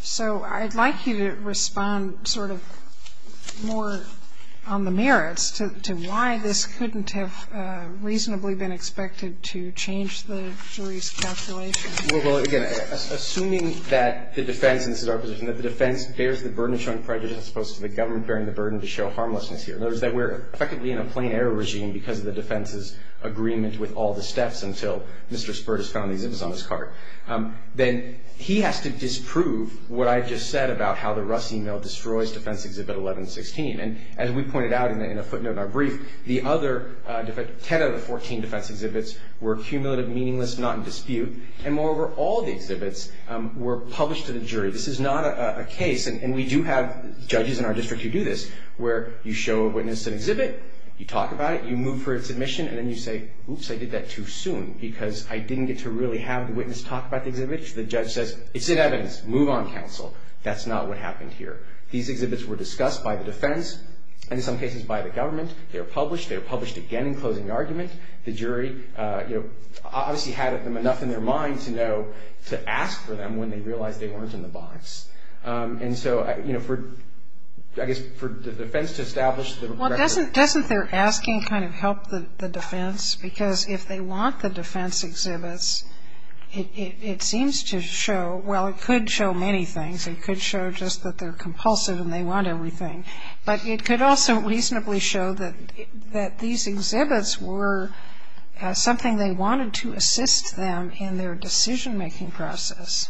So I'd like you to respond sort of more on the merits to why this couldn't have reasonably been expected to change the jury's calculation. Well, again, assuming that the defense, and this is our position, that the defense bears the burden of showing prejudice as opposed to the government bearing the burden to show harmlessness here. In other words, that we're effectively in a plain error regime because of the defense's agreement with all the steps until Mr. Spertus found the exhibits on his cart. Then he has to disprove what I just said about how the Rusty Mill destroys defense exhibit 1116. And as we pointed out in a footnote in our brief, the other 10 of the 14 defense exhibits were cumulative, meaningless, not in dispute. And moreover, all the exhibits were published to the jury. This is not a case, and we do have judges in our district who do this, where you show a witness an exhibit, you talk about it, you move for its admission, and then you say, oops, I did that too soon because I didn't get to really have the witness talk about the exhibit. The judge says, it's in evidence. Move on, counsel. That's not what happened here. These exhibits were discussed by the defense and, in some cases, by the government. They were published. They were published again in closing argument. The jury, you know, obviously had enough in their mind to know to ask for them when they realized they weren't in the box. And so, you know, for, I guess, for the defense to establish the record. Doesn't their asking kind of help the defense? Because if they want the defense exhibits, it seems to show, well, it could show many things. It could show just that they're compulsive and they want everything. But it could also reasonably show that these exhibits were something they wanted to assist them in their decision-making process.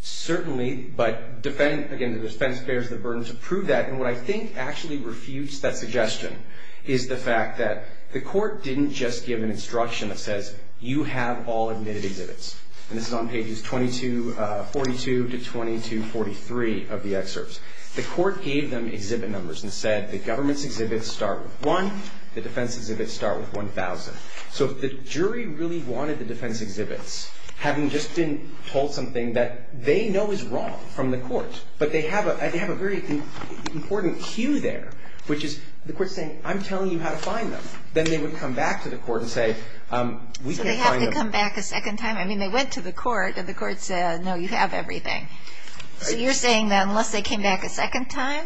Certainly, but, again, the defense bears the burden to prove that. And what I think actually refutes that suggestion is the fact that the court didn't just give an instruction that says, you have all admitted exhibits. And this is on pages 22, 42 to 22, 43 of the excerpts. The court gave them exhibit numbers and said the government's exhibits start with one. The defense exhibits start with 1,000. So if the jury really wanted the defense exhibits, having just been told something that they know is wrong from the court, but they have a very important cue there, which is the court saying, I'm telling you how to find them. Then they would come back to the court and say, we can find them. So they have to come back a second time? I mean, they went to the court and the court said, no, you have everything. So you're saying that unless they came back a second time?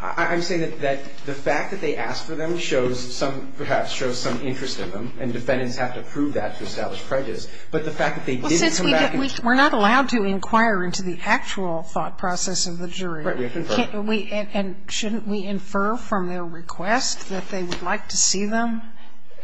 I'm saying that the fact that they asked for them shows some, perhaps shows some interest in them. And defendants have to prove that to establish prejudice. But the fact that they didn't come back. We're not allowed to inquire into the actual thought process of the jury. We have to infer. And shouldn't we infer from their request that they would like to see them?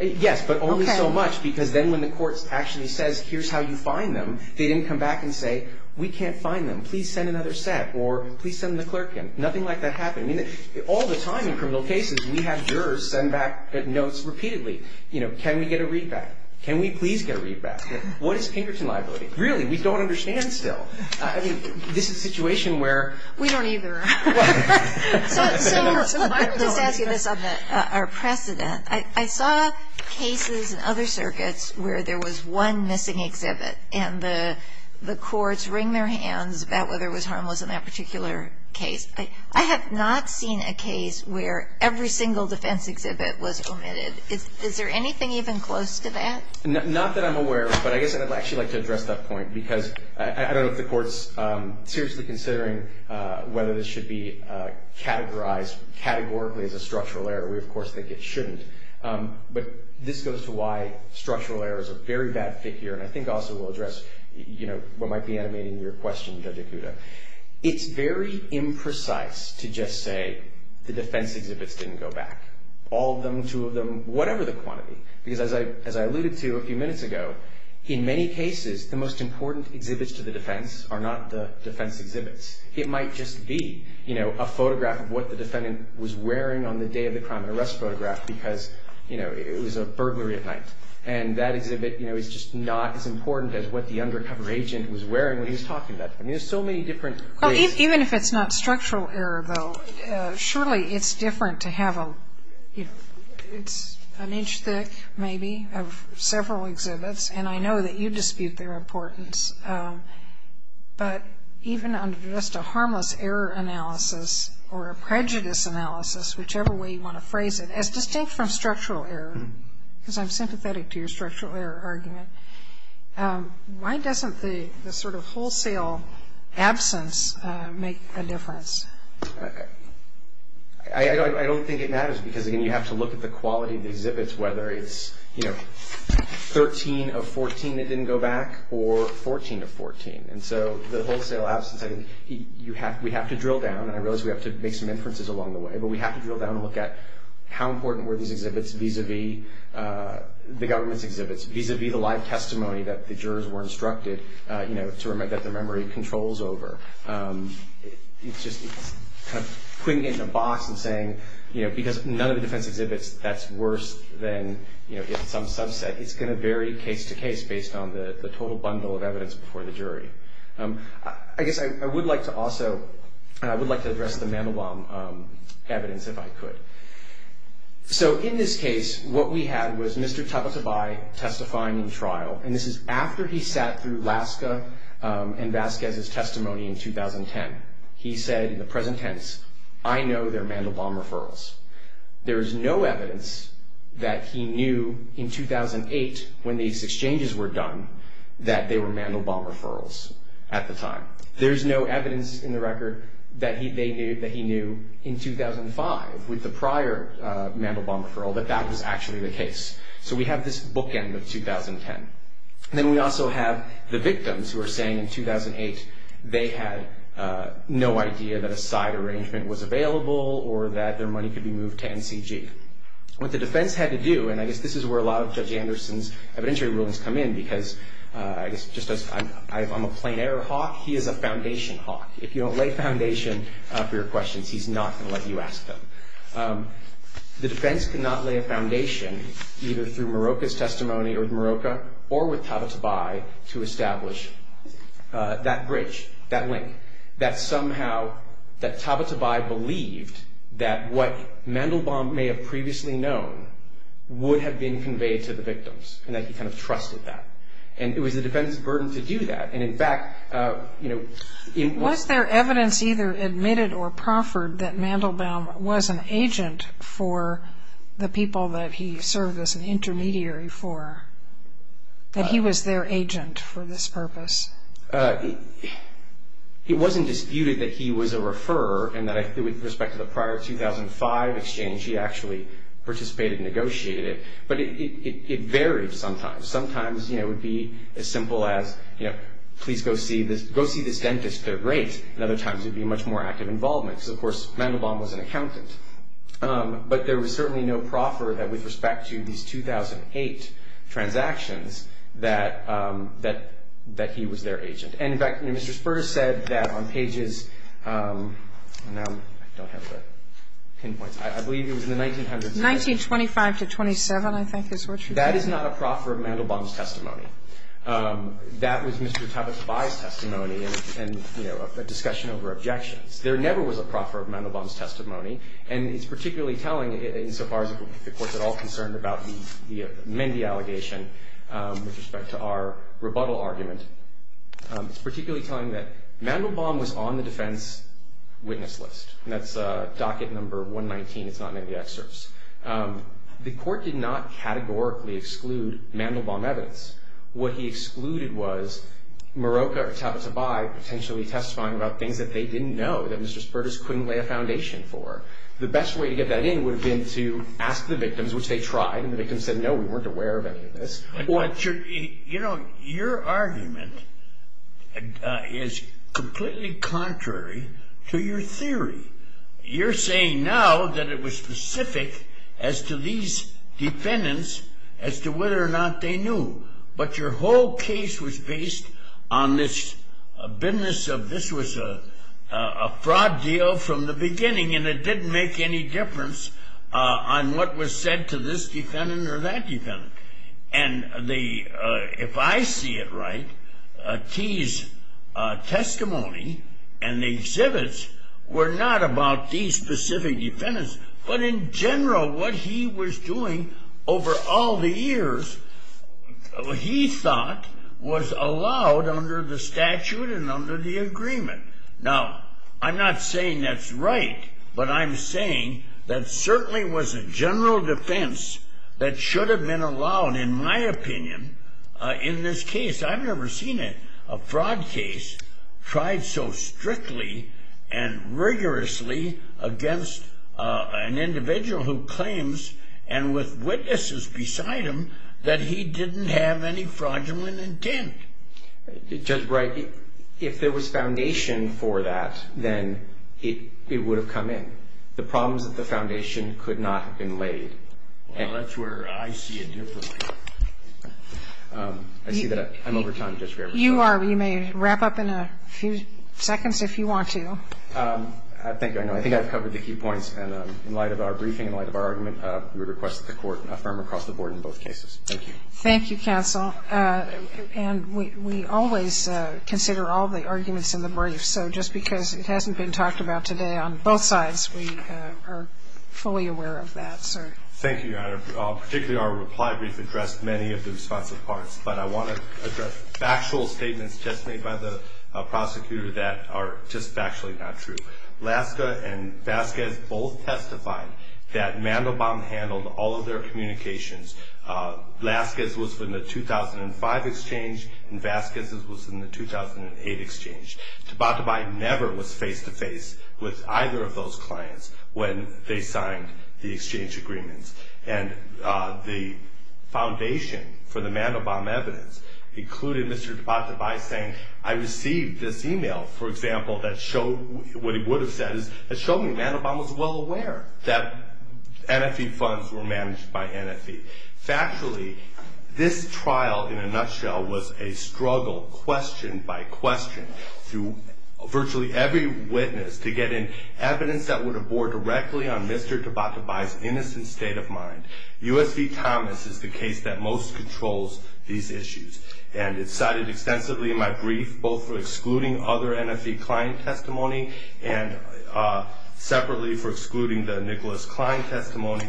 Yes. Okay. But only so much because then when the court actually says, here's how you find them, they didn't come back and say, we can't find them. Please send another set or please send the clerk in. Nothing like that happened. All the time in criminal cases, we have jurors send back notes repeatedly. You know, can we get a readback? Can we please get a readback? What is Pinkerton liability? Really, we don't understand still. I mean, this is a situation where. We don't either. So let me just ask you this on our precedent. I saw cases in other circuits where there was one missing exhibit and the courts wring their hands about whether it was harmless in that particular case. I have not seen a case where every single defense exhibit was omitted. Is there anything even close to that? Not that I'm aware of, but I guess I'd actually like to address that point because I don't know if the court's seriously considering whether this should be categorized, categorically as a structural error. We, of course, think it shouldn't. But this goes to why structural errors are a very bad figure and I think also will address what might be animating your question, Judge Ikuda. It's very imprecise to just say the defense exhibits didn't go back. All of them, two of them, whatever the quantity. Because as I alluded to a few minutes ago, in many cases, the most important exhibits to the defense are not the defense exhibits. It might just be, you know, a photograph of what the defendant was wearing on the day of the crime and arrest photograph because, you know, it was a burglary at night. And that exhibit, you know, is just not as important as what the undercover agent was wearing when he was talking about it. I mean, there's so many different ways. Even if it's not structural error, though, certainly it's different to have a, you know, it's an inch thick, maybe, of several exhibits. And I know that you dispute their importance. But even under just a harmless error analysis or a prejudice analysis, whichever way you want to phrase it, as distinct from structural error, because I'm sympathetic to your structural error argument, why doesn't the sort of wholesale absence make a difference? Okay. I don't think it matters because, again, you have to look at the quality of the exhibits, whether it's, you know, 13 of 14 that didn't go back or 14 of 14. And so the wholesale absence, I think, we have to drill down, and I realize we have to make some inferences along the way, but we have to drill down and look at how important were these exhibits vis-a-vis the government's exhibits, vis-a-vis the live testimony that the jurors were instructed, you know, that the memory controls over. It's just kind of putting it in a box and saying, you know, because none of the defense exhibits, that's worse than, you know, some subset. It's going to vary case to case based on the total bundle of evidence before the jury. I guess I would like to also address the Mandelbaum evidence, if I could. So in this case, what we had was Mr. Tabatabai testifying in trial, and this is after he sat through Laska and Vasquez's testimony in 2010. He said in the present tense, I know they're Mandelbaum referrals. There is no evidence that he knew in 2008 when these exchanges were done that they were Mandelbaum referrals at the time. There is no evidence in the record that they knew, that he knew in 2005 with the prior Mandelbaum referral that that was actually the case. So we have this bookend of 2010. Then we also have the victims who are saying in 2008 they had no idea that a side arrangement was available or that their money could be moved to NCG. What the defense had to do, and I guess this is where a lot of Judge Anderson's evidentiary rulings come in because I guess just as I'm a plain error hawk, he is a foundation hawk. If you don't lay a foundation for your questions, he's not going to let you ask them. The defense could not lay a foundation either through Moroka's testimony or Moroka or with Tabatabai to establish that bridge, that link, that somehow that Tabatabai believed that what Mandelbaum may have previously known would have been conveyed to the victims and that he kind of trusted that. It was the defense's burden to do that. In fact, it was... Was there evidence either admitted or proffered that Mandelbaum was an agent for the people that he served as an intermediary for, that he was their agent for this purpose? It wasn't disputed that he was a referrer and that with respect to the prior 2005 exchange he actually participated and negotiated it, but it varied sometimes. Sometimes, you know, it would be as simple as, you know, please go see this dentist, they're great. And other times it would be a much more active involvement because, of course, Mandelbaum was an accountant. But there was certainly no proffer that with respect to these 2008 transactions that he was their agent. And in fact, you know, Mr. Spurs said that on pages... I don't have the pinpoints. I believe it was in the 1900s. 1925 to 27, I think is what you said. That is not a proffer of Mandelbaum's testimony. That was Mr. Tabatabai's testimony and, you know, a discussion over objections. There never was a proffer of Mandelbaum's testimony, and it's particularly telling insofar as the Court's at all concerned about the Mendi allegation with respect to our rebuttal argument. It's particularly telling that Mandelbaum was on the defense witness list, and that's docket number 119. It's not in any of the excerpts. The Court did not categorically exclude Mandelbaum evidence. What he excluded was Maroca or Tabatabai potentially testifying about things that they didn't know, that Mr. Spurs couldn't lay a foundation for. The best way to get that in would have been to ask the victims, which they tried, and the victims said, no, we weren't aware of any of this. You know, your argument is completely contrary to your theory. You're saying now that it was specific as to these defendants as to whether or not they knew. But your whole case was based on this business of this was a fraud deal from the beginning, and it didn't make any difference on what was said to this defendant or that defendant. And if I see it right, T's testimony and the exhibits were not about these specific defendants, but in general what he was doing over all the years, he thought, was allowed under the statute and under the agreement. Now, I'm not saying that's right, but I'm saying that certainly was a general defense that should have been allowed, in my opinion, in this case. I've never seen a fraud case tried so strictly and rigorously against an individual who claims, and with witnesses beside him, that he didn't have any fraudulent intent. Judge Bright, if there was foundation for that, then it would have come in. The problem is that the foundation could not have been laid. Well, that's where I see it differently. I see that I'm over time, Judge Graber. You are. You may wrap up in a few seconds if you want to. Thank you. I know. I think I've covered the key points. And in light of our briefing, in light of our argument, we request that the Court affirm across the board in both cases. Thank you. Thank you, counsel. And we always consider all the arguments in the brief. So just because it hasn't been talked about today on both sides, we are fully aware of that. Thank you, Your Honor. Particularly our reply brief addressed many of the responsive parts, but I want to address factual statements just made by the prosecutor that are just factually not true. Laska and Vasquez both testified that Mandelbaum handled all of their communications. Laska's was from the 2005 exchange, and Vasquez's was from the 2008 exchange. Dababtabai never was face-to-face with either of those clients when they signed the exchange agreements. And the foundation for the Mandelbaum evidence included Mr. Dababtabai saying, I received this email, for example, that showed what he would have said, that showed me Mandelbaum was well aware that NFE funds were managed by NFE. Factually, this trial in a nutshell was a struggle, question by question, through virtually every witness to get in evidence that would have bore directly on Mr. Dababtabai's innocent state of mind. U.S. v. Thomas is the case that most controls these issues. And it's cited extensively in my brief, both for excluding other NFE client testimony and separately for excluding the Nicholas Klein testimony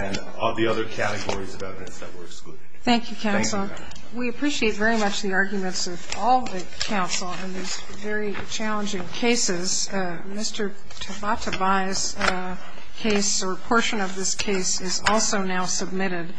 and all the other categories of evidence that were excluded. Thank you, counsel. We appreciate very much the arguments of all the counsel in these very challenging cases. Mr. Dababtabai's case or portion of this case is also now submitted.